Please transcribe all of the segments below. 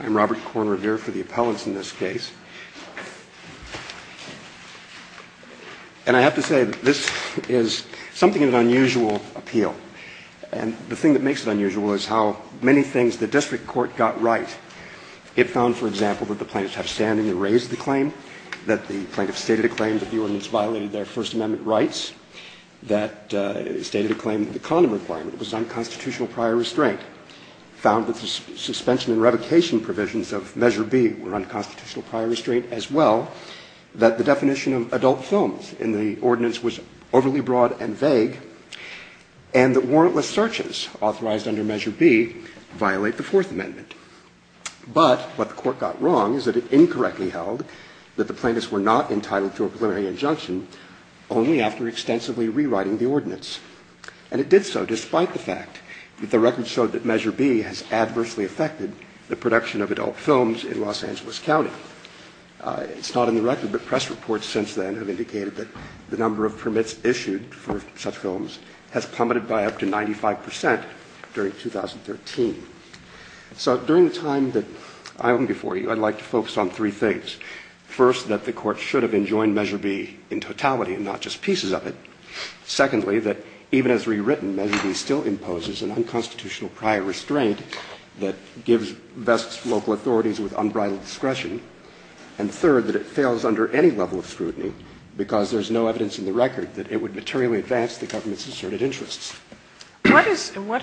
I'm Robert Corn Revere for the appellants in this case. And I have to say, this is something of an unusual appeal. And the thing that makes it unusual is how many things the district court got right. It found, for example, that the plaintiffs have standing to raise the claim, that the plaintiffs stated a claim that the ordinance violated their First Amendment rights, that stated a claim that the condom requirement was an unconstitutional prior restraint. It found that the suspension and revocation provisions of Measure B were unconstitutional prior restraint as well, that the definition of adult films in the ordinance was overly broad and vague, and that warrantless searches authorized under Measure B violate the Fourth Amendment. But what the court got wrong is that it incorrectly held that the plaintiffs were not entitled to a preliminary injunction only after extensively rewriting the ordinance. And it did so despite the fact that the record showed that Measure B has adversely affected the production of adult films in Los Angeles County. It's not in the record, but press reports since then have indicated that the number of permits issued for such films has plummeted by up to 95 percent during 2013. So during the time that I'm before you, I'd like to focus on three things. First, that the court should have enjoined Measure B in totality and not just pieces of it. Secondly, that even as rewritten, Measure B still imposes an unconstitutional prior restraint that bests local authorities with unbridled discretion. And third, that it fails under any level of scrutiny because there's no evidence in the record that it would materially advance the government's asserted interests. What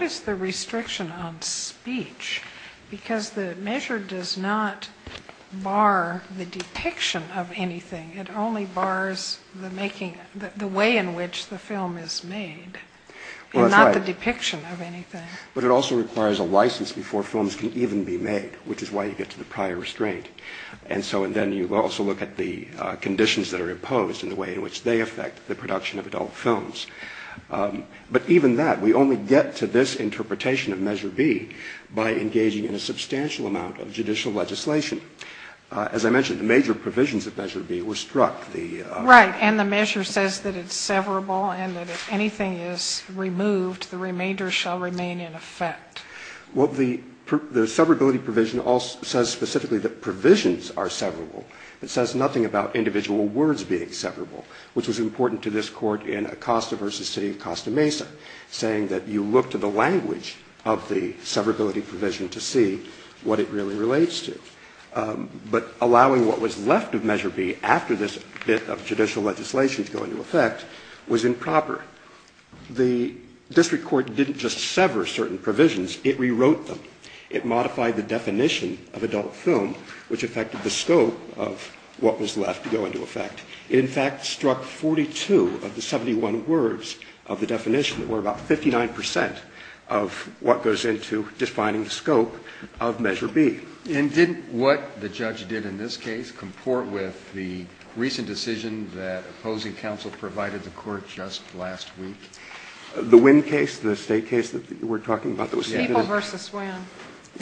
is the restriction on speech? Because the measure does not bar the depiction of anything. It only bars the way in which the film is made and not the depiction of anything. But it also requires a license before films can even be made, which is why you get to the prior restraint. And so then you also look at the conditions that are imposed and the way in which they affect the production of adult films. But even that, we only get to this interpretation of Measure B by engaging in a substantial amount of judicial legislation. As I mentioned, the major provisions of Measure B were struck. Right. And the measure says that it's severable and that if anything is removed, the remainder shall remain in effect. Well, the severability provision also says specifically that provisions are severable. It says nothing about individual words being severable, which was important to this court in Acosta v. City of Costa Mesa, saying that you look to the language of the severability provision to see what it really relates to. But allowing what was left of Measure B after this bit of judicial legislation to go into effect was improper. The district court didn't just sever certain provisions, it rewrote them. It modified the definition of adult film, which affected the scope of what was left to go into effect. It, in fact, struck 42 of the 71 words of the definition that were about 59 percent of what goes into defining the scope of Measure B. And didn't what the judge did in this case comport with the recent decision that opposing counsel provided the court just last week? The Wynn case, the State case that you were talking about that was submitted? People v. Wynn.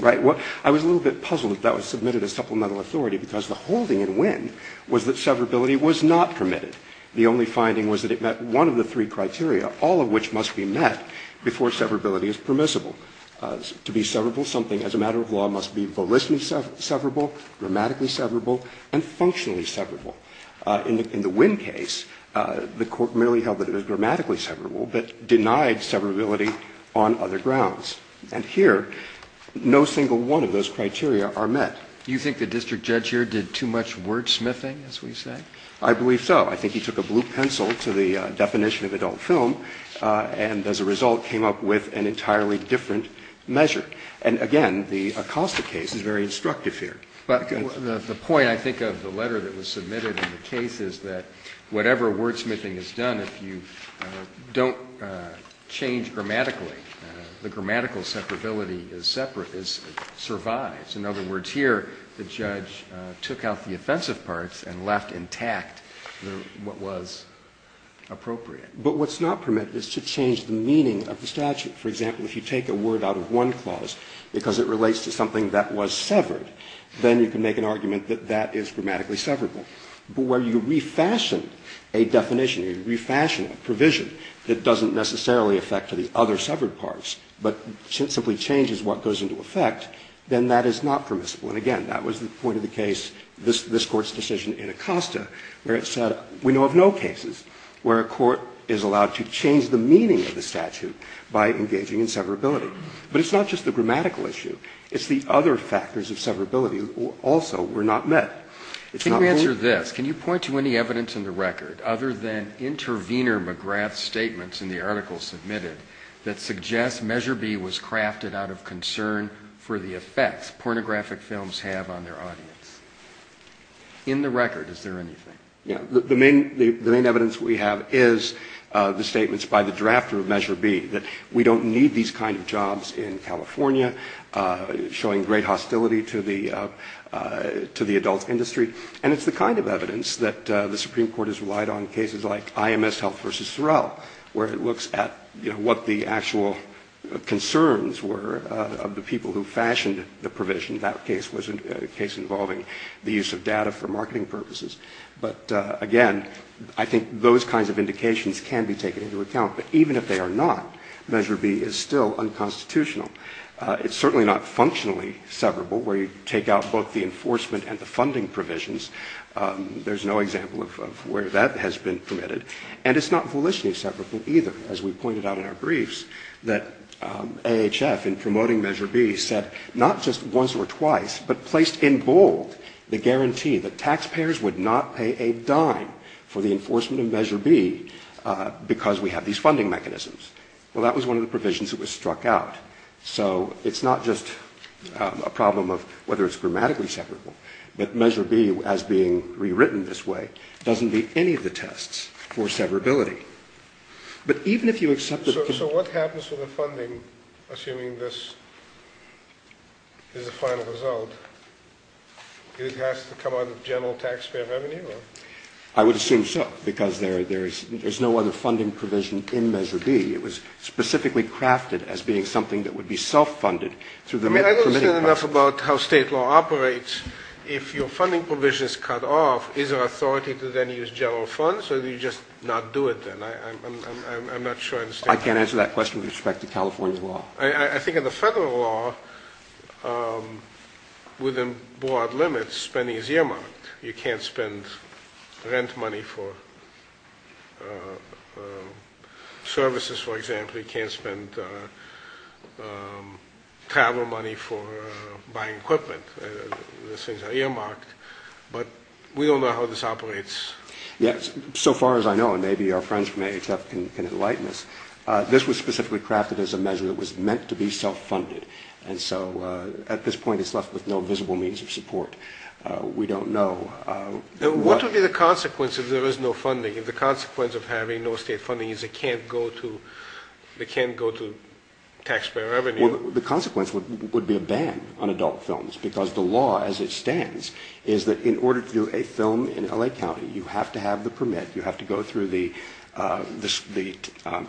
Right. I was a little bit puzzled that that was submitted as supplemental authority because the holding in Wynn was that severability was not permitted. The only finding was that it met one of the three criteria, all of which must be met before severability is permissible. To be severable, something as a matter of law must be volitionally severable, grammatically severable, and functionally severable. In the Wynn case, the court merely held that it was grammatically severable, but denied severability on other grounds. And here, no single one of those criteria are met. Do you think the district judge here did too much wordsmithing, as we say? I believe so. I think he took a blue pencil to the definition of adult film and, as a result, came up with an entirely different measure. And, again, the Acosta case is very instructive here. But the point, I think, of the letter that was submitted in the case is that whatever wordsmithing is done, if you don't change grammatically, the grammatical severability is separate, survives. In other words, here the judge took out the offensive parts and left intact what was appropriate. But what's not permitted is to change the meaning of the statute. For example, if you take a word out of one clause because it relates to something that was severed, then you can make an argument that that is grammatically severable. But where you refashion a definition, you refashion a provision that doesn't necessarily affect the other severed parts, but simply changes what goes into effect, then that is not permissible. And, again, that was the point of the case, this Court's decision in Acosta, where it said we know of no cases where a court is allowed to change the meaning of the sentence by engaging in severability. But it's not just the grammatical issue. It's the other factors of severability also were not met. It's not only... Can you answer this? Can you point to any evidence in the record, other than intervener McGrath's statements in the article submitted, that suggests Measure B was crafted out of concern for the effects pornographic films have on their audience? In the record, is there anything? Yeah. Well, the main evidence we have is the statements by the drafter of Measure B, that we don't need these kind of jobs in California, showing great hostility to the adult industry. And it's the kind of evidence that the Supreme Court has relied on in cases like IMS Health v. Thoreau, where it looks at what the actual concerns were of the people who fashioned the provision. That case was a case involving the use of data for marketing purposes. But, again, I think those kinds of indications can be taken into account. But even if they are not, Measure B is still unconstitutional. It's certainly not functionally severable, where you take out both the enforcement and the funding provisions. There's no example of where that has been permitted. And it's not volitionally severable, either. As we pointed out in our briefs, that AHF, in promoting Measure B, said not just once or twice, but placed in bold the guarantee that taxpayers would not pay a dime for the enforcement of Measure B because we have these funding mechanisms. Well, that was one of the provisions that was struck out. So it's not just a problem of whether it's grammatically severable. But Measure B, as being rewritten this way, doesn't meet any of the tests for severability. So what happens to the funding, assuming this is the final result? It has to come out of general taxpayer revenue? I would assume so, because there's no other funding provision in Measure B. It was specifically crafted as being something that would be self-funded through the medical permitting process. I don't understand enough about how State law operates. If your funding provision is cut off, is there authority to then use general funds, or do you just not do it then? I'm not sure I understand that. I can't answer that question with respect to California law. I think in the federal law, within broad limits, spending is earmarked. You can't spend rent money for services, for example. You can't spend travel money for buying equipment. Those things are earmarked. But we don't know how this operates. Yes, so far as I know, and maybe our friends from AHF can enlighten us, this was specifically crafted as a measure that was meant to be self-funded. And so at this point, it's left with no visible means of support. We don't know. What would be the consequence if there is no funding, if the consequence of having no state funding is it can't go to taxpayer revenue? Well, the consequence would be a ban on adult films, because the law as it is, you have to have the permit, you have to go through the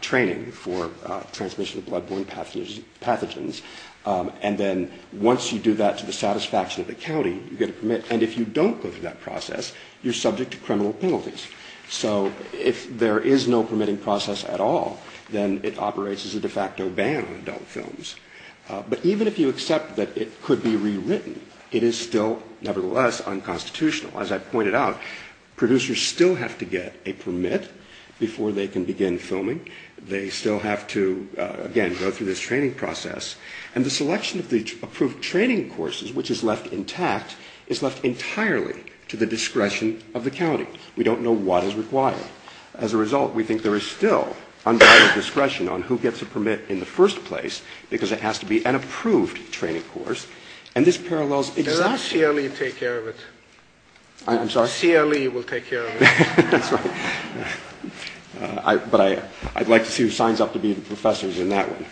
training for transmission of blood-borne pathogens, and then once you do that to the satisfaction of the county, you get a permit. And if you don't go through that process, you're subject to criminal penalties. So if there is no permitting process at all, then it operates as a de facto ban on adult films. But even if you accept that it could be rewritten, it is still, nevertheless, unconstitutional. As I pointed out, producers still have to get a permit before they can begin filming. They still have to, again, go through this training process. And the selection of the approved training courses, which is left intact, is left entirely to the discretion of the county. We don't know what is required. As a result, we think there is still undivided discretion on who gets a permit in the first place, because it has to be an approved training course. And this parallels exactly... I'm sorry? CLE will take care of it. That's right. But I'd like to see who signs up to be professors in that one.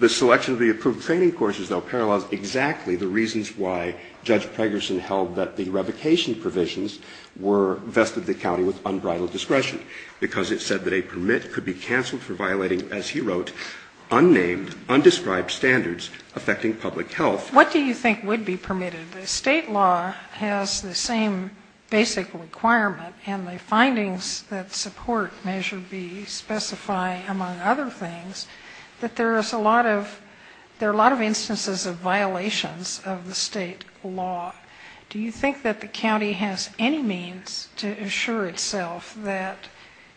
The selection of the approved training courses, though, parallels exactly the reasons why Judge Pregerson held that the revocation provisions were vested in the county with unbridled discretion, because it said that a permit could be canceled for violating, as he wrote, unnamed, undescribed standards affecting public health. What do you think would be permitted? The state law has the same basic requirement, and the findings that support Measure B specify, among other things, that there are a lot of instances of violations of the state law. Do you think that the county has any means to assure itself that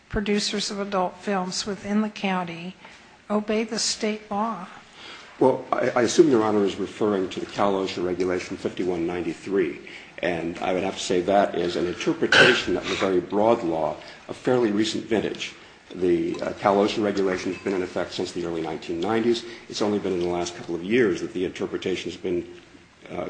producers of adult films within the county obey the state law? Well, I assume Your Honor is referring to the CalOcean Regulation 5193. And I would have to say that is an interpretation of the very broad law of fairly recent vintage. The CalOcean Regulation has been in effect since the early 1990s. It's only been in the last couple of years that the interpretation has been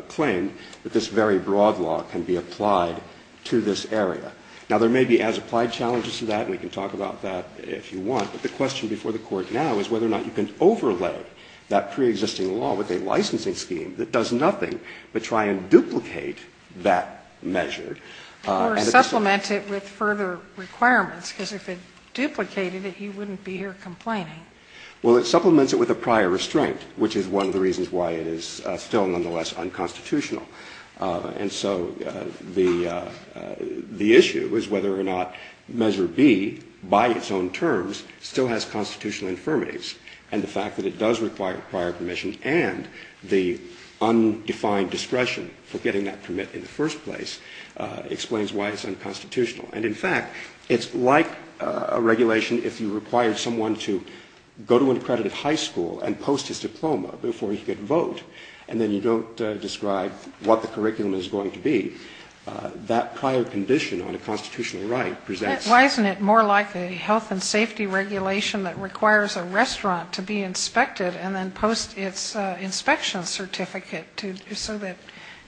claimed that this very broad law can be applied to this area. Now, there may be as-applied challenges to that, and we can talk about that if you want. But the question before the Court now is whether or not you can overlay that pre-existing law with a licensing scheme that does nothing but try and duplicate that measure. Or supplement it with further requirements, because if it duplicated it, you wouldn't be here complaining. Well, it supplements it with a prior restraint, which is one of the reasons why it is still nonetheless unconstitutional. And so the issue is whether or not Measure B, by its own terms, still has constitutional infirmities. And the fact that it does require prior permission and the undefined discretion for getting that permit in the first place explains why it's unconstitutional. And in fact, it's like a regulation if you required someone to go to an accredited high school and post his diploma before he could vote, and then you don't describe what the curriculum is going to be. That prior condition on a constitutional right presents... Why isn't it more like a health and safety regulation that requires a restaurant to be inspected and then post its inspection certificate so that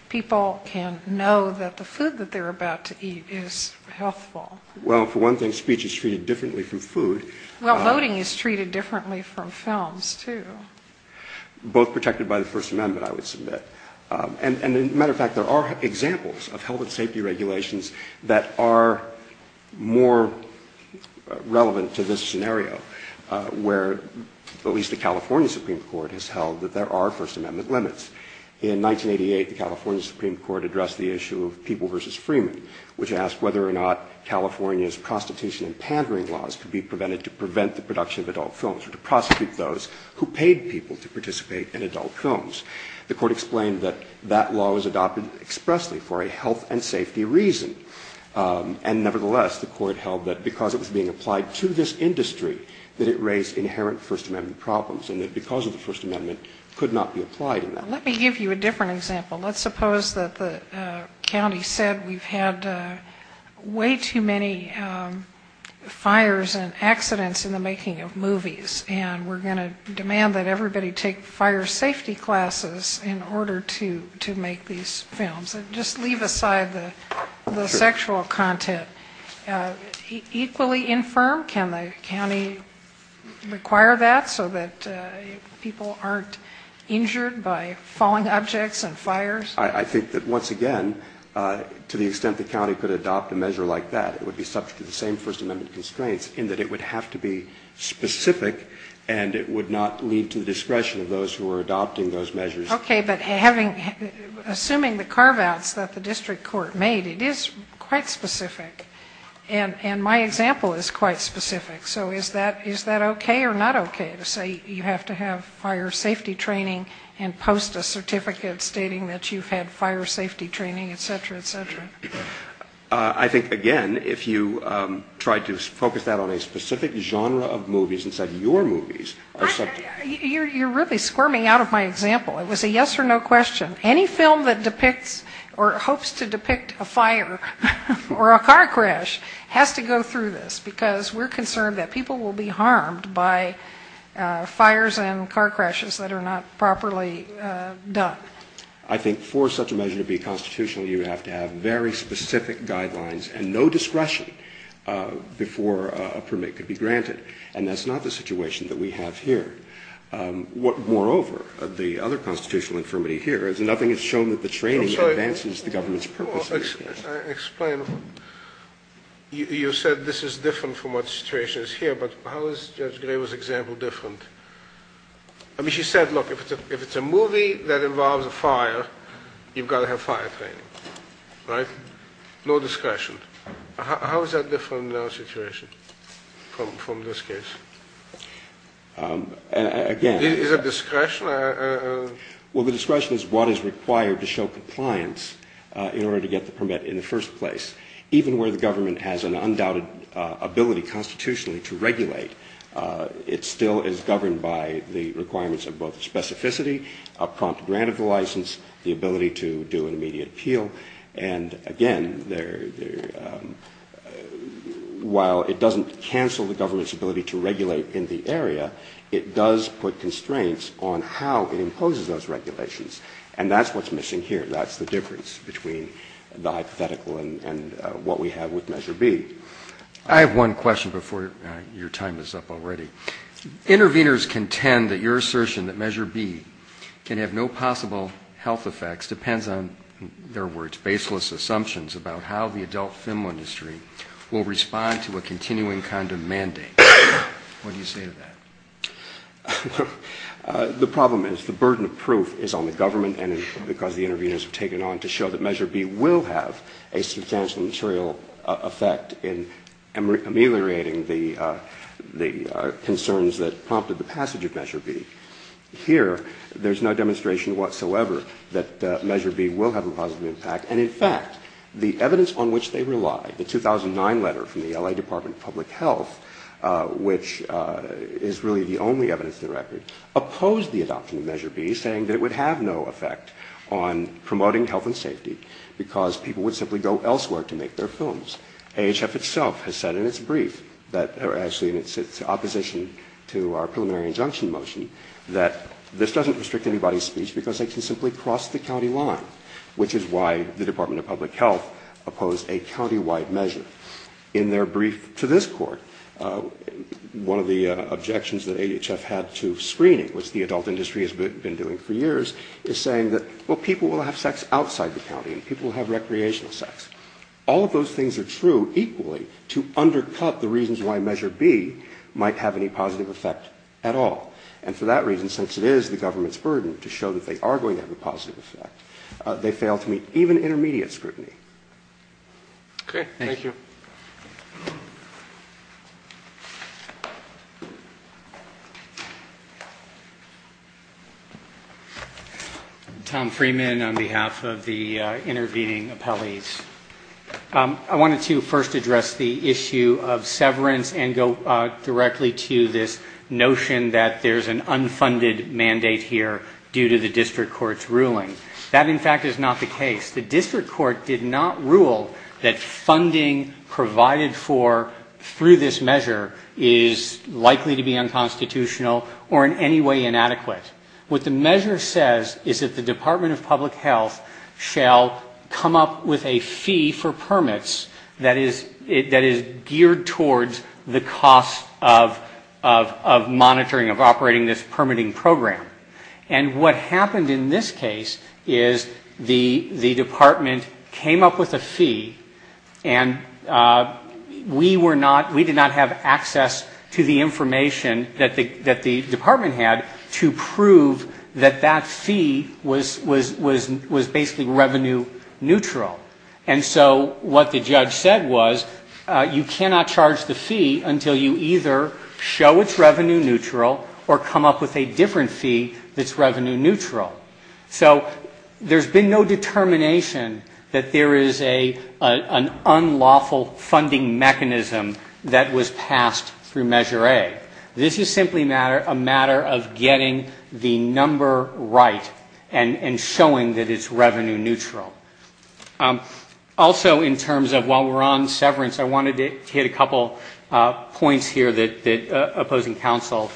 people can know that the food that they're about to eat is healthful? Well, for one thing, speech is treated differently from food. Well, voting is treated differently from films, too. Both protected by the First Amendment, I would submit. And as a matter of fact, there are examples of health and safety regulations that are more relevant to this scenario, where at least the California Supreme Court has held that there are First Amendment limits. In 1988, the California Supreme Court addressed the issue of People v. Freeman, which asked whether or not California's prostitution and pandering laws could be prevented to prevent the production of adult films or to prosecute those who paid people to participate in adult films. The court explained that that law was adopted expressly for a health and safety reason. And nevertheless, the court held that because it was being applied to this industry, that it raised inherent First Amendment problems, and that because of the First Amendment, it could not be applied in that way. Let me give you a different example. Let's suppose that the county said we've had way too many fires and accidents in the making of movies, and we're going to demand that everybody take fire safety classes in order to make these films. Just leave aside the sexual content. Equally infirm, can the county require that, so that people aren't injured by falling objects and fires? I think that, once again, to the extent the county could adopt a measure like that, it would be subject to the same First Amendment constraints, in that it would have to be specific, and it would not lead to the discretion of those who were adopting those measures. Okay, but assuming the carve-outs that the district court made, it is quite specific. And my example is quite specific. So is that okay or not okay, to say you have to have fire safety training and post a certificate stating that you've had fire safety training, et cetera, et cetera? I think, again, if you tried to focus that on a specific genre of movies instead of your movies... You're really squirming out of my example. It was a yes or no question. Any film that depicts or hopes to depict a fire or a car crash has to go through this. Because we're concerned that people will be harmed by fires and car crashes that are not properly done. I think for such a measure to be constitutional, you have to have very specific guidelines and no discretion before a permit could be granted. And that's not the situation that we have here. Moreover, the other constitutional infirmity here is that nothing has shown that the training advances the government's purpose. I'm sorry. Explain. You said this is different from what the situation is here, but how is Judge Graber's example different? I mean, she said, look, if it's a movie that involves a fire, you've got to have fire training, right? No discretion. How is that different from the situation, from this case? Again... Is it discretion? Well, the discretion is what is required to show compliance in order to get the permit in the first place. Even where the government has an undoubted ability constitutionally to regulate, it still is governed by the requirements of both specificity, a prompt grant of the license, the ability to do an immediate appeal, and, again, there are limitations. While it doesn't cancel the government's ability to regulate in the area, it does put constraints on how it imposes those regulations. And that's what's missing here. That's the difference between the hypothetical and what we have with Measure B. I have one question before your time is up already. Interveners contend that your assertion that Measure B can have no possible health effects depends on, in their words, baseless assumptions about how the adult film industry will respond to a continuing kind of mandate. What do you say to that? The problem is, the burden of proof is on the government, and because the interveners have taken on to show that Measure B will have a substantial material effect in ameliorating the concerns that prompted the passage of Measure B. Here, there's no demonstration whatsoever that Measure B will have a positive effect on promoting health and safety, because people would simply go elsewhere to make their films. AHF itself has said in its brief that, or actually in its opposition to our preliminary injunction motion, that this doesn't restrict anybody's speech because they can simply cross the county line, which is why the Department I think that's a good point. In their brief to this Court, one of the objections that AHF had to screening, which the adult industry has been doing for years, is saying that, well, people will have sex outside the county, and people will have recreational sex. All of those things are true equally to undercut the reasons why Measure B might have any positive effect at all. And for that reason, since it is the government's burden to show that they are going to have a positive effect, they fail to meet even intermediate scrutiny. Thank you. Tom Freeman on behalf of the intervening appellees. I wanted to first address the issue of severance and go directly to this notion that there's an unfunded mandate here due to the district court's ruling. That, in fact, is not the case. The district court did not rule that funding provided for through this measure is likely to be unconstitutional or in any way inadequate. What the measure says is that the Department of Public Health shall come up with a fee for permits that is geared towards the cost of monitoring, of operating this permitting program. And we did not have access to the information that the Department had to prove that that fee was basically revenue neutral. And so what the judge said was you cannot charge the fee until you either show it's revenue neutral or come up with a different fee that's revenue neutral. So there's been no determination that there is an unlawful funding mechanism that was passed through Measure A. This is simply a matter of getting the number right and showing that it's revenue neutral. Also, in terms of while we're on severance, I wanted to hit a couple points here that opposing counsel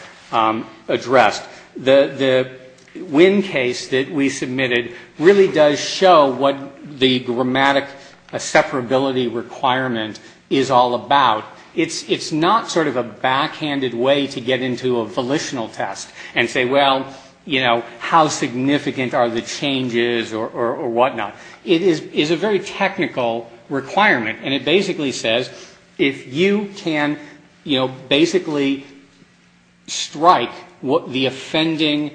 addressed. The Winn case that we submitted really does show what the grammatic separability requirement is all about. It's not sort of a backhanded way to get into a volitional test and say, well, you know, how significant are the changes or whatnot. It is a very technical requirement. And it basically says if you can, you know, basically strike the effect of defending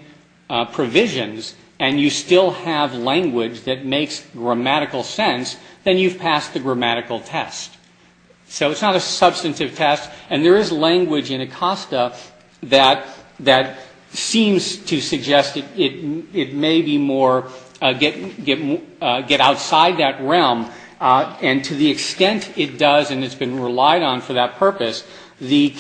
provisions and you still have language that makes grammatical sense, then you've passed the grammatical test. So it's not a substantive test. And there is language in ACOSTA that seems to suggest that it may be more get outside that realm. And to the extent it does and it's been relied on for that purpose, the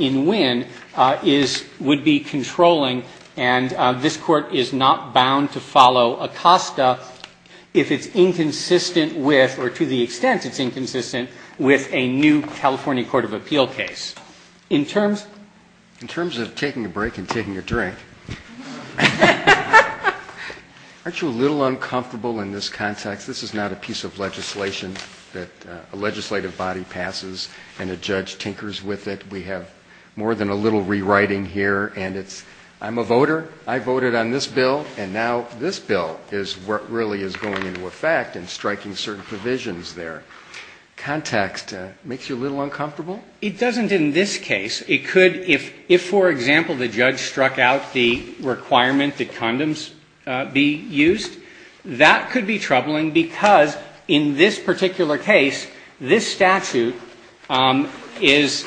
Winn case would be controlling and this Court is not bound to follow ACOSTA if it's inconsistent with or to the extent it's inconsistent with a new California Court of Appeal case. In terms of taking a break and taking a drink, aren't you a little uncomfortable in this context? This is not a piece of legislation that a legislative body passes and a judge tinkers with it. There's a lot of technical rewriting here and it's, I'm a voter, I voted on this bill and now this bill is what really is going into effect and striking certain provisions there. Context, makes you a little uncomfortable? It doesn't in this case. It could, if, for example, the judge struck out the requirement that condoms be used, that could be troubling because in this particular case, this statute is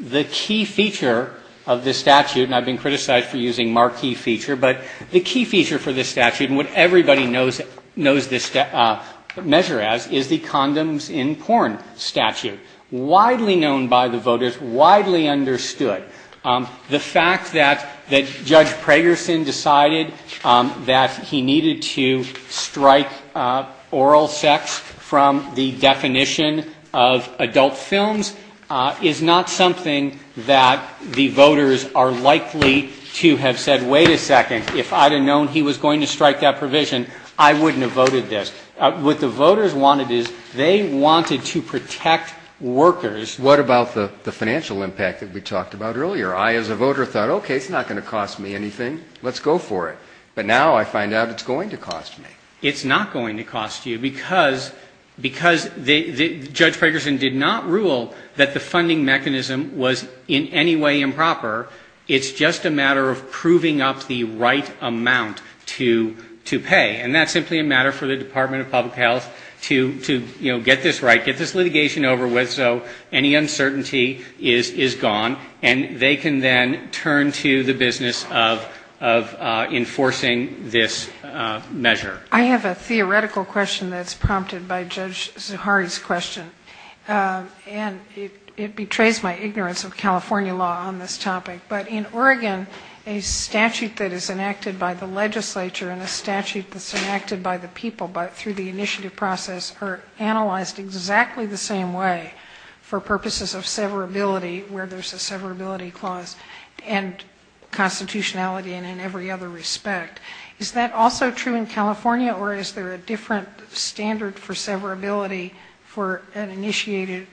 the key feature of the statute. And I've been criticized for using marquee feature, but the key feature for this statute and what everybody knows this measure as is the condoms in porn statute, widely known by the voters, widely understood. The fact that Judge Pragerson decided that he needed to strike oral sex from the definition of adult films is not something that I would be comfortable with. It's not something that the voters are likely to have said, wait a second, if I would have known he was going to strike that provision, I wouldn't have voted this. What the voters wanted is they wanted to protect workers. What about the financial impact that we talked about earlier? I as a voter thought, okay, it's not going to cost me anything, let's go for it. But now I find out it's going to cost me. It's not going to cost you. Because Judge Pragerson did not rule that the funding mechanism was in any way improper. It's just a matter of proving up the right amount to pay. And that's simply a matter for the Department of Public Health to, you know, get this right, get this litigation over with so any uncertainty is gone. And they can then turn to the business of enforcing this measure. I have a theoretical question that's prompted by Judge Zuhari's question. And it betrays my ignorance of California law. But in Oregon, a statute that is enacted by the legislature and a statute that's enacted by the people through the initiative process are analyzed exactly the same way for purposes of severability where there's a severability clause and constitutionality and in every other respect. Is that also true in California or is there a different standard for severability for an initiated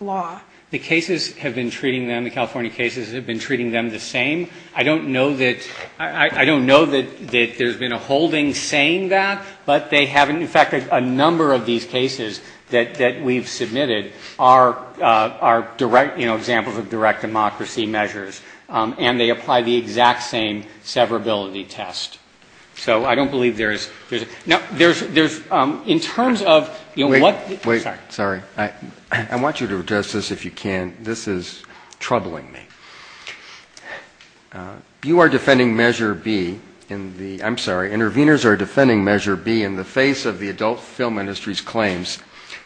law? The cases have been treating them, the California cases have been treating them the same. I don't know that there's been a holding saying that. But they haven't. In fact, a number of these cases that we've submitted are direct, you know, examples of direct democracy measures. And they apply the exact same severability test. So I don't believe there is. Now, there's, in terms of, you know, what... This is troubling me. You are defending Measure B in the... I'm sorry. Interveners are defending Measure B in the face of the adult film industry's claims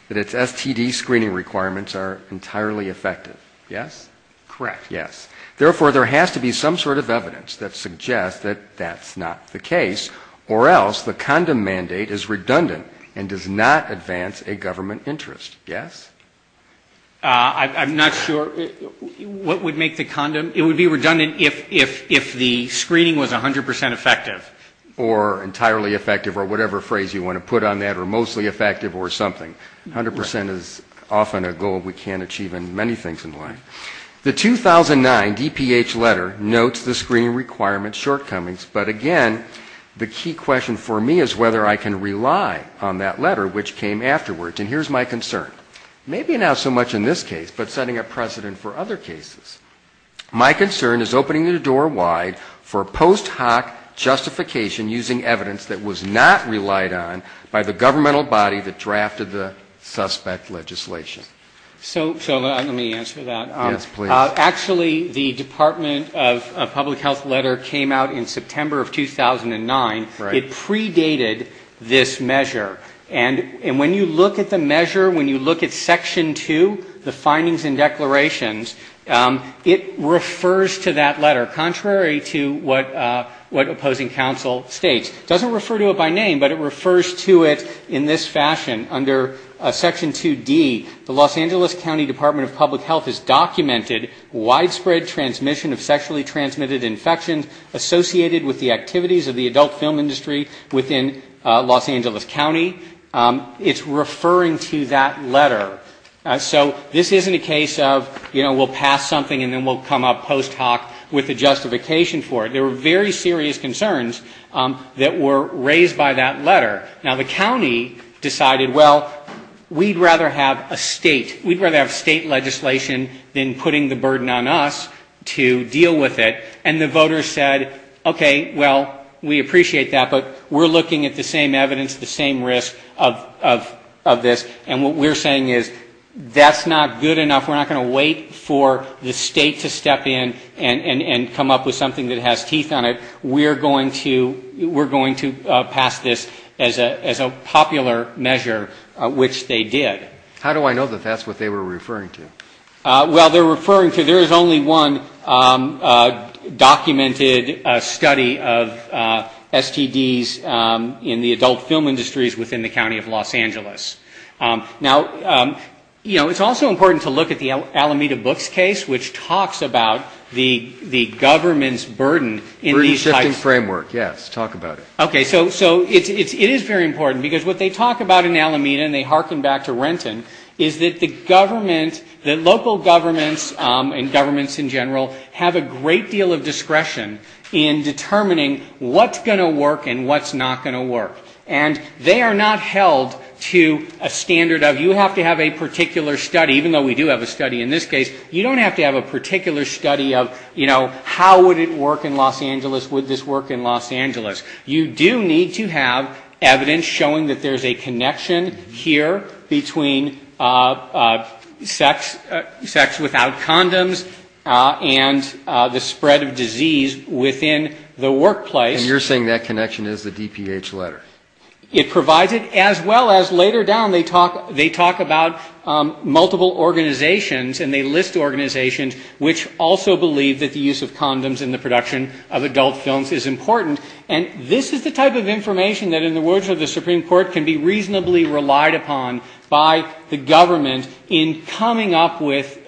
that its STD screening requirements are entirely effective. Yes? Correct. Yes. Therefore, there has to be some sort of evidence that suggests that that's not the case, or else the condom mandate is redundant and does not advance a government interest. Yes? I'm not sure what would make the condom... It would be redundant if the screening was 100% effective. Or entirely effective or whatever phrase you want to put on that, or mostly effective or something. The 2009 DPH letter notes the screening requirement shortcomings, but again, the key question for me is whether I can rely on that letter, which came afterwards. And here's my concern. Maybe not so much in this case, but setting a precedent for other cases. My concern is opening the door wide for post hoc justification using evidence that was not relied on by the governmental body that drafted the suspect legislation. So let me answer that. Yes, please. Actually, the Department of Public Health letter came out in September of 2009. It predated this measure. And when you look at the measure, when you look at Section 2, the findings and declarations, it refers to that letter, contrary to what opposing counsel states. It doesn't refer to it by name, but it refers to it in this fashion. Under Section 2D, the Los Angeles County Department of Public Health has documented widespread transmission of sexually transmitted infections associated with the activities of the adult film industry within Los Angeles County. It's referring to that letter. So this isn't a case of, you know, we'll pass something and then we'll come up post hoc with a justification for it. There were very serious concerns that were raised by that letter. Now, the county decided what it was going to do. Well, we'd rather have a state. We'd rather have state legislation than putting the burden on us to deal with it. And the voters said, okay, well, we appreciate that, but we're looking at the same evidence, the same risk of this. And what we're saying is that's not good enough. We're not going to wait for the state to step in and come up with something that has teeth on it. We're going to pass this as a popular measure. Which they did. How do I know that that's what they were referring to? Well, they're referring to there is only one documented study of STDs in the adult film industries within the County of Los Angeles. Now, you know, it's also important to look at the Alameda Books case, which talks about the government's burden in these types of cases. Burden shifting framework, yes. Talk about it. Okay. So it is very important. Because what they talk about in Alameda, and they harken back to Renton, is that the government, the local governments and governments in general have a great deal of discretion in determining what's going to work and what's not going to work. And they are not held to a standard of you have to have a particular study, even though we do have a study in this case, you don't have to have a particular study of, you know, how would it work in Los Angeles, would this work in Los Angeles. You do need to have evidence showing that there's a connection here between sex without condoms and the spread of disease within the workplace. And you're saying that connection is the DPH letter? It provides it, as well as later down they talk about multiple organizations and they list organizations which also believe that the use of condoms in the production of adult films is important. And this is the type of information that in the words of the Supreme Court can be reasonably relied upon by the government in coming up with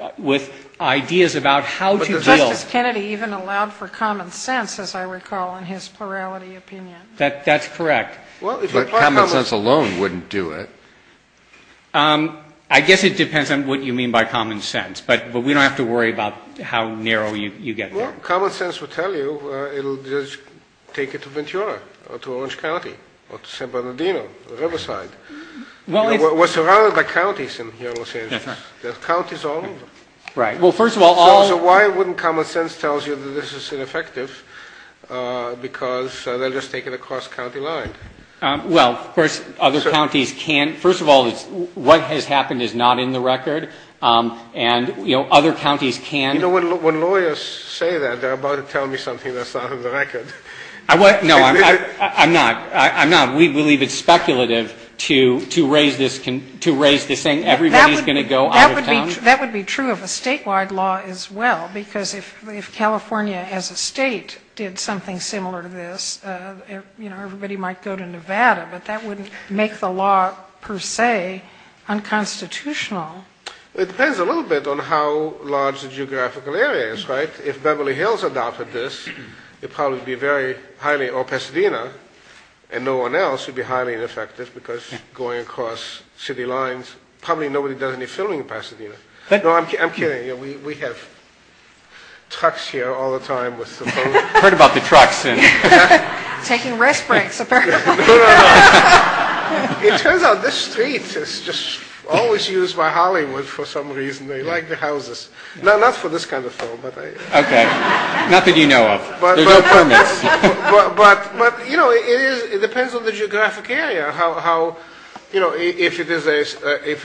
ideas about how to deal. Justice Kennedy even allowed for common sense, as I recall, in his plurality opinion. That's correct. But common sense alone wouldn't do it. I guess it depends on what you mean by common sense. But we don't have to worry about how narrow you get there. Common sense would tell you it will just take it to Ventura or to Orange County or to San Bernardino or Riverside. We're surrounded by counties in Los Angeles. There are counties all over. So why wouldn't common sense tell you that this is ineffective because they'll just take it across county line? Well, of course, other counties can. First of all, what has happened is not in the record. And, you know, other counties can. When lawyers say that, they're about to tell me something that's not in the record. No, I'm not. We believe it's speculative to raise this saying everybody's going to go out of town. That would be true of a statewide law as well. Because if California as a state did something similar to this, you know, everybody might go to Nevada. But that wouldn't make the law per se unconstitutional. It depends a little bit on how large the geographical area is. Right? If Beverly Hills adopted this, it would probably be very highly or Pasadena and no one else would be highly ineffective because going across city lines, probably nobody does any filming in Pasadena. No, I'm kidding. We have trucks here all the time. I've heard about the trucks. Taking rest breaks, apparently. It turns out this street is just always used by Hollywood for some reason. They like the houses. Not for this kind of film. Okay. Nothing you know of. There's no permits. But, you know, it depends on the geographic area. If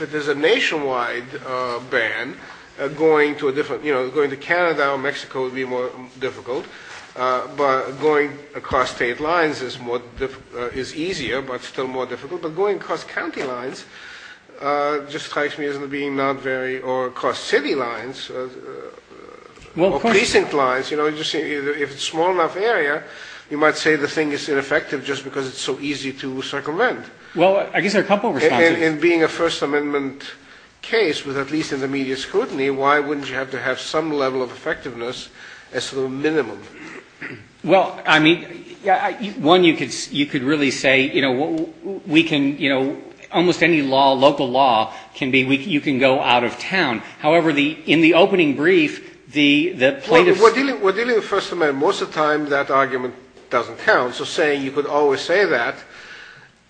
it is a nationwide ban, going to Canada or Mexico would be more difficult. But going across state lines is easier, but still more difficult. But going across county lines just strikes me as being not very, or across city lines. Or precinct lines. You know, if it's a small enough area, you might say the thing is ineffective just because it's so easy to circumvent. Well, I guess there are a couple of responses. In being a First Amendment case, at least in the media scrutiny, why wouldn't you have to have some level of effectiveness as the minimum? Well, I mean, one, you could really say, you know, we can, you know, almost any law, local law, can be you can go out of town. However, in the opening brief, the plaintiffs... Well, we're dealing with First Amendment. Most of the time that argument doesn't count. So saying you could always say that,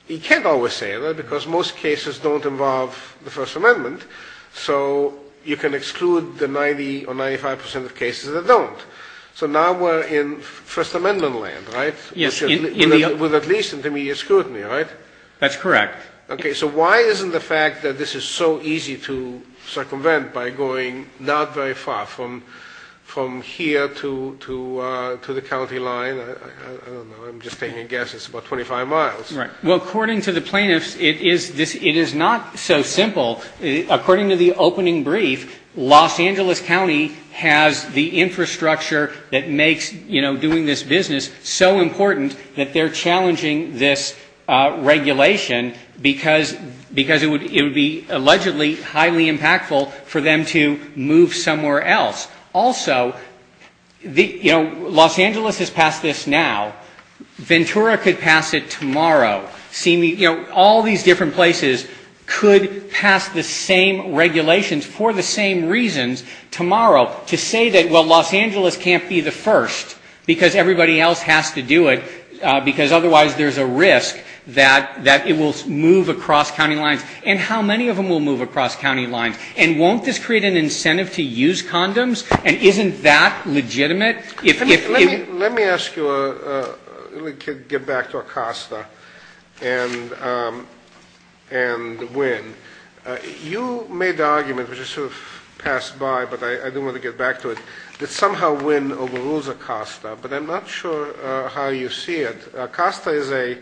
you can't always say that because most cases don't involve the First Amendment. So you can exclude the 90 or 95 percent of cases that don't. So now we're in a situation where you can't always say that. But we're in First Amendment land, right? With at least in the media scrutiny, right? That's correct. Okay. So why isn't the fact that this is so easy to circumvent by going not very far from here to the county line? I don't know. I'm just taking guesses. It's about 25 miles. Well, according to the plaintiffs, it is not so simple. According to the opening brief, Los Angeles County has the infrastructure that makes, you know, doing this business so important that they're challenging this regulation because it would be allegedly highly impactful for them to move somewhere else. Also, you know, Los Angeles has passed this now. Ventura could pass it tomorrow. You know, all these different places could pass the same regulations for the same reasons tomorrow to say that, well, Los Angeles can't be the first because everybody else has to do it, because otherwise there's a risk that it will move across county lines. And how many of them will move across county lines? And won't this create an incentive to use condoms? And isn't that legitimate? Let me ask you to get back to Acosta and Wynn. You made the argument, which is sort of passed by, but I do want to get back to it, that somehow Wynn overrules Acosta, but I'm not sure how you see it. Acosta is a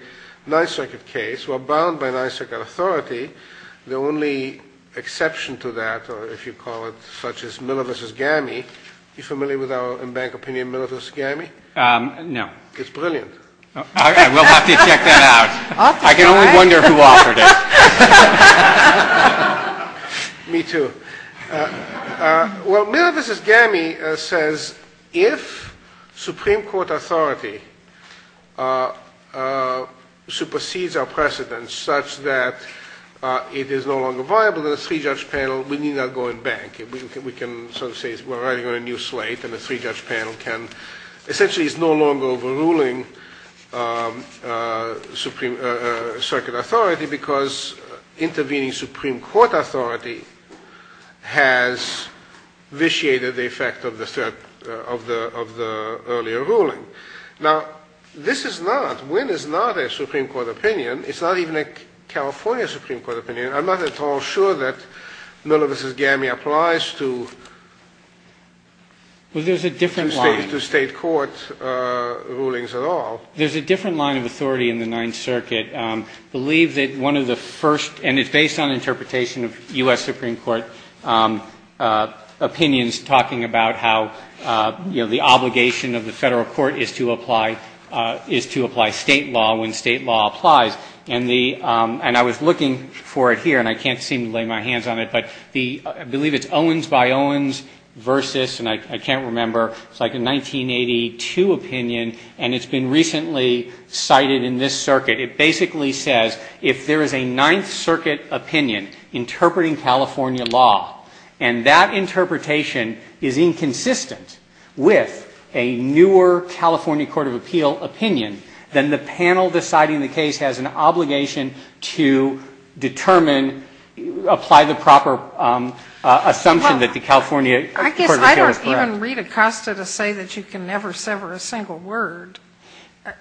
Ninth Circuit case. We're bound by Ninth Circuit authority. The only exception to that, or if you call it such as Miller v. GAMI, are you familiar with our in-bank opinion Miller v. GAMI? No. It's brilliant. I will have to check that out. I can only wonder who offered it. Me too. Well, Miller v. GAMI says if Supreme Court authority supersedes our precedent such that it is no longer viable, then the three-judge panel, we need not go in-bank. We can sort of say we're writing on a new slate, and the three-judge panel essentially is no longer overruling circuit authority because intervening Supreme Court authority has vitiated the effect of the earlier ruling. Now, this is not, Wynn is not a Supreme Court opinion. It's not even a California Supreme Court opinion. I'm not at all sure that Miller v. GAMI applies to State court rulings at all. There's a different line of authority in the Ninth Circuit. I believe that one of the first, and it's based on interpretation of U.S. Supreme Court opinions talking about how, you know, the obligation of the Federal Court is to apply State law when State law applies. And I was looking for it here, and I can't seem to lay my hands on it. But I believe it's Owens v. Owens, and I can't remember. It's like a 1982 opinion, and it's been recently cited in this circuit. It basically says if there is a Ninth Circuit opinion interpreting California law, and that interpretation is inconsistent with a newer California Court of Appeal opinion, then the panel deciding the case has an obligation to determine, apply the proper assumption that the California Court of Appeal is correct. I guess I don't even read Acosta to say that you can never sever a single word.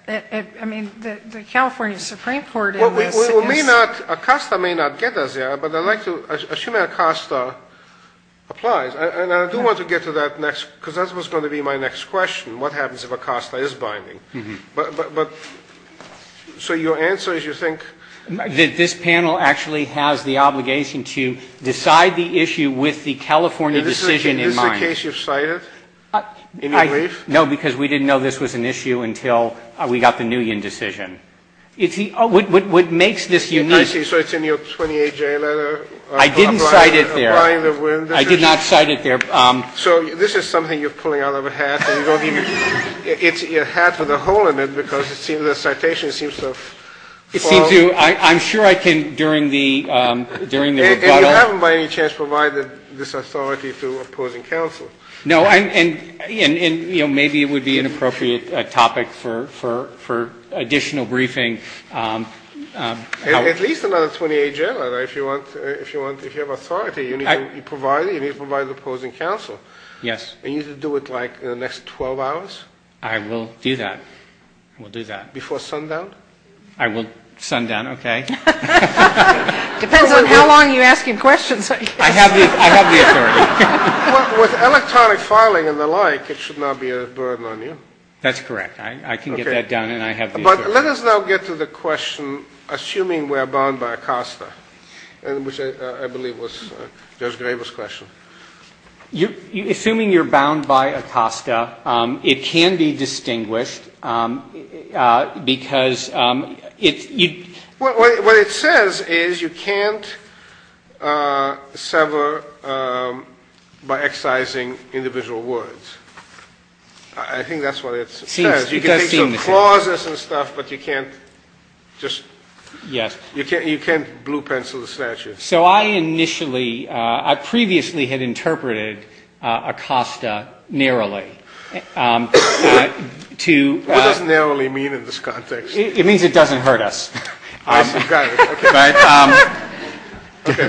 I mean, the California Supreme Court in this is. Well, we may not. Acosta may not get us there, but I'd like to assume that Acosta applies. And I do want to get to that next, because that's what's going to be my next question, what happens if Acosta is binding. But so your answer is you think. This panel actually has the obligation to decide the issue with the California decision in mind. Is this a case you've cited in your brief? No, because we didn't know this was an issue until we got the Nguyen decision. What makes this unique. I see. So it's in your 28J letter. I didn't cite it there. Applying the Nguyen decision. I did not cite it there. So this is something you're pulling out of a hat and you don't even. It's a hat with a hole in it because the citation seems to. It seems to. I'm sure I can during the rebuttal. And you haven't by any chance provided this authority to opposing counsel. No. And maybe it would be an appropriate topic for additional briefing. At least another 28J letter. If you have authority, you need to provide it. You need to provide it to opposing counsel. Yes. And you need to do it like in the next 12 hours? I will do that. I will do that. Before sundown? I will sundown, okay. Depends on how long you ask him questions. I have the authority. With electronic filing and the like, it should not be a burden on you. That's correct. I can get that done and I have the authority. But let us now get to the question, assuming we're bound by ACOSTA, which I believe was Judge Graber's question. Assuming you're bound by ACOSTA, it can be distinguished because it's you. What it says is you can't sever by excising individual words. I think that's what it says. You can think of clauses and stuff, but you can't just blue pencil the statute. So I initially, I previously had interpreted ACOSTA narrowly. What does narrowly mean in this context? It means it doesn't hurt us.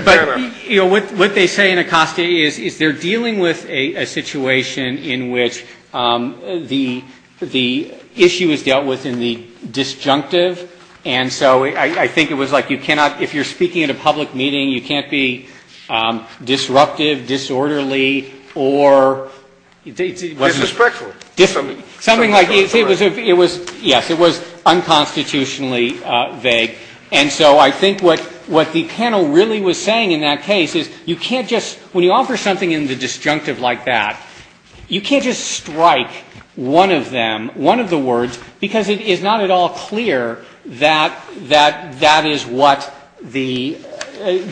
But, you know, what they say in ACOSTA is they're dealing with a situation in which the issue is dealt with in the disjunctive, and so I think it was like you cannot, if you're speaking at a public meeting, you can't be disruptive, disorderly, or Disrespectful. Something like, it was, yes, it was unconstitutionally vague. And so I think what the panel really was saying in that case is you can't just, when you offer something in the disjunctive like that, you can't just strike one of them, one of the words, because it is not at all clear that that is what the,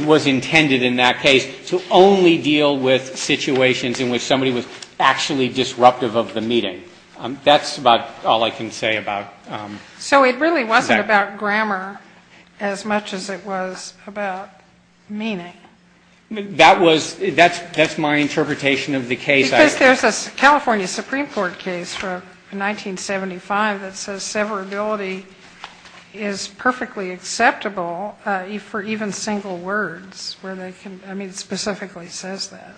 was intended in that case to only deal with situations in which somebody was actually disruptive of the meeting. That's about all I can say about that. So it really wasn't about grammar as much as it was about meaning. That was, that's my interpretation of the case. Because there's a California Supreme Court case from 1975 that says severability is perfectly acceptable for even single words, where they can, I mean, it specifically says that.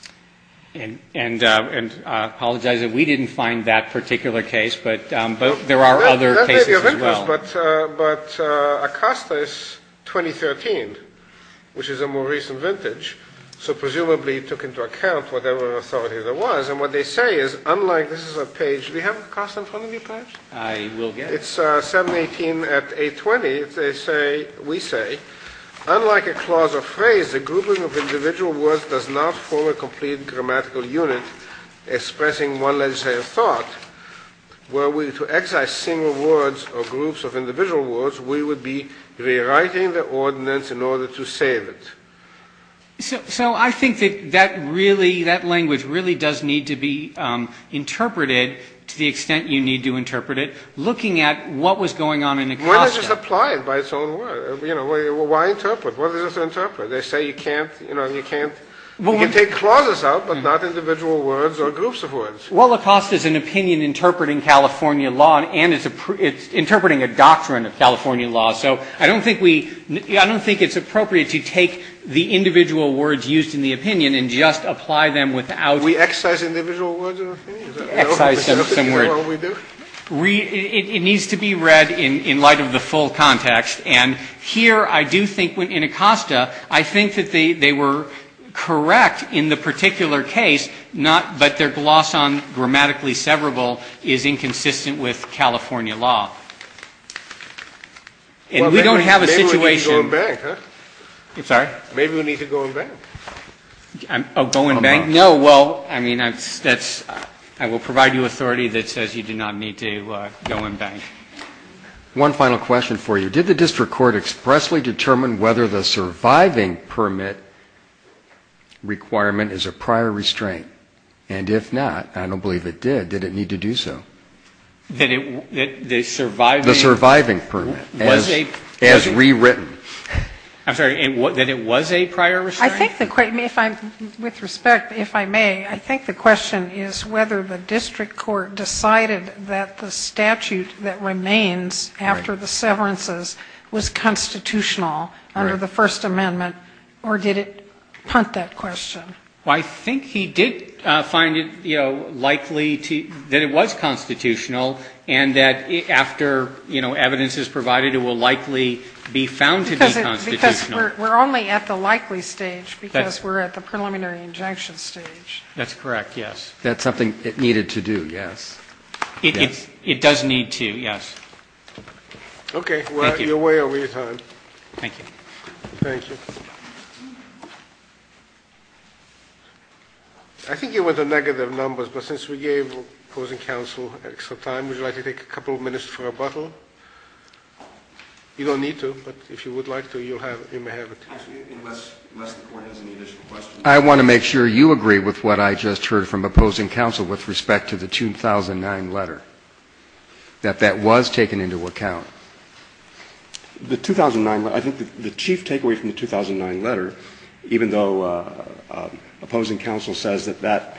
And I apologize that we didn't find that particular case, but there are other cases as well. That may be of interest, but ACOSTA is 2013, which is a more recent vintage. So presumably it took into account whatever authority there was. And what they say is, unlike, this is a page, do we have ACOSTA in front of you, perhaps? I will get it. It's 718 at 820. They say, we say, unlike a clause or phrase, the grouping of individual words does not form a complete grammatical unit, expressing one legislative thought, where we, to excise single words or groups of individual words, we would be rewriting the ordinance in order to save it. So I think that that really, that language really does need to be interpreted to the extent you need to interpret it, looking at what was going on in ACOSTA. Why not just apply it by its own word? You know, why interpret? What is there to interpret? They say you can't, you know, you can't, you can take clauses out, but not individual words or groups of words. Well, ACOSTA is an opinion interpreting California law, and it's interpreting a doctrine of California law. So I don't think we, I don't think it's appropriate to take the individual words used in the opinion and just apply them without. Do we excise individual words in our opinion? Excise some words. Is that what we do? It needs to be read in light of the full context. And here I do think, in ACOSTA, I think that they were correct in the particular case, not, but their gloss on grammatically severable is inconsistent with California law. And we don't have a situation. Maybe we need to go and bank, huh? I'm sorry? Maybe we need to go and bank. Oh, go and bank? No, well, I mean, that's, I will provide you authority that says you do not need to go and bank. One final question for you. Did the district court expressly determine whether the surviving permit requirement is a prior restraint? And if not, I don't believe it did, did it need to do so? The surviving permit as rewritten. I'm sorry, that it was a prior restraint? I think the, with respect, if I may, I think the question is whether the district court decided that the statute that remains after the severances was constitutional under the First Amendment, or did it punt that question? Well, I think he did find it, you know, likely that it was constitutional, and that after, you know, evidence is provided, it will likely be found to be constitutional. Because we're only at the likely stage, because we're at the preliminary injunction stage. That's correct, yes. That's something it needed to do, yes. It does need to, yes. Okay, well, you're way over your time. Thank you. Thank you. I think you went to negative numbers, but since we gave opposing counsel extra time, would you like to take a couple of minutes for rebuttal? You don't need to, but if you would like to, you may have it. Unless the court has any additional questions. I want to make sure you agree with what I just heard from opposing counsel with respect to the 2009 letter, that that was taken into account. The 2009 letter, I think the chief takeaway from the 2009 letter, even though opposing counsel says that that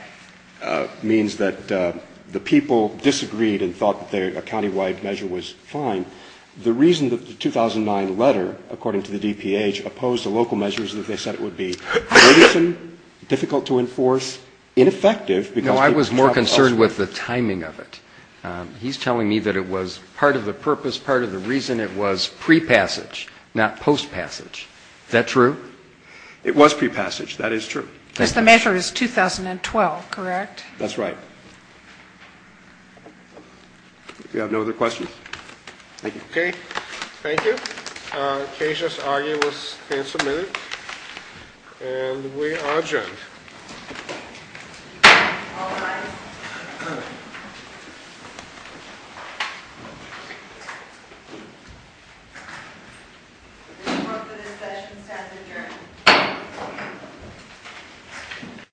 means that the people disagreed and thought that a countywide measure was fine, the reason that the 2009 letter, according to the DPH, opposed the local measures that they said it would be innocent, difficult to enforce, ineffective, because people No, I was more concerned with the timing of it. He's telling me that it was part of the purpose, part of the reason it was prepassage, not postpassage. Is that true? It was prepassage. That is true. Because the measure is 2012, correct? That's right. If you have no other questions. Thank you. Okay. Thank you. Cautious, arduous, handsome minute. And we are adjourned.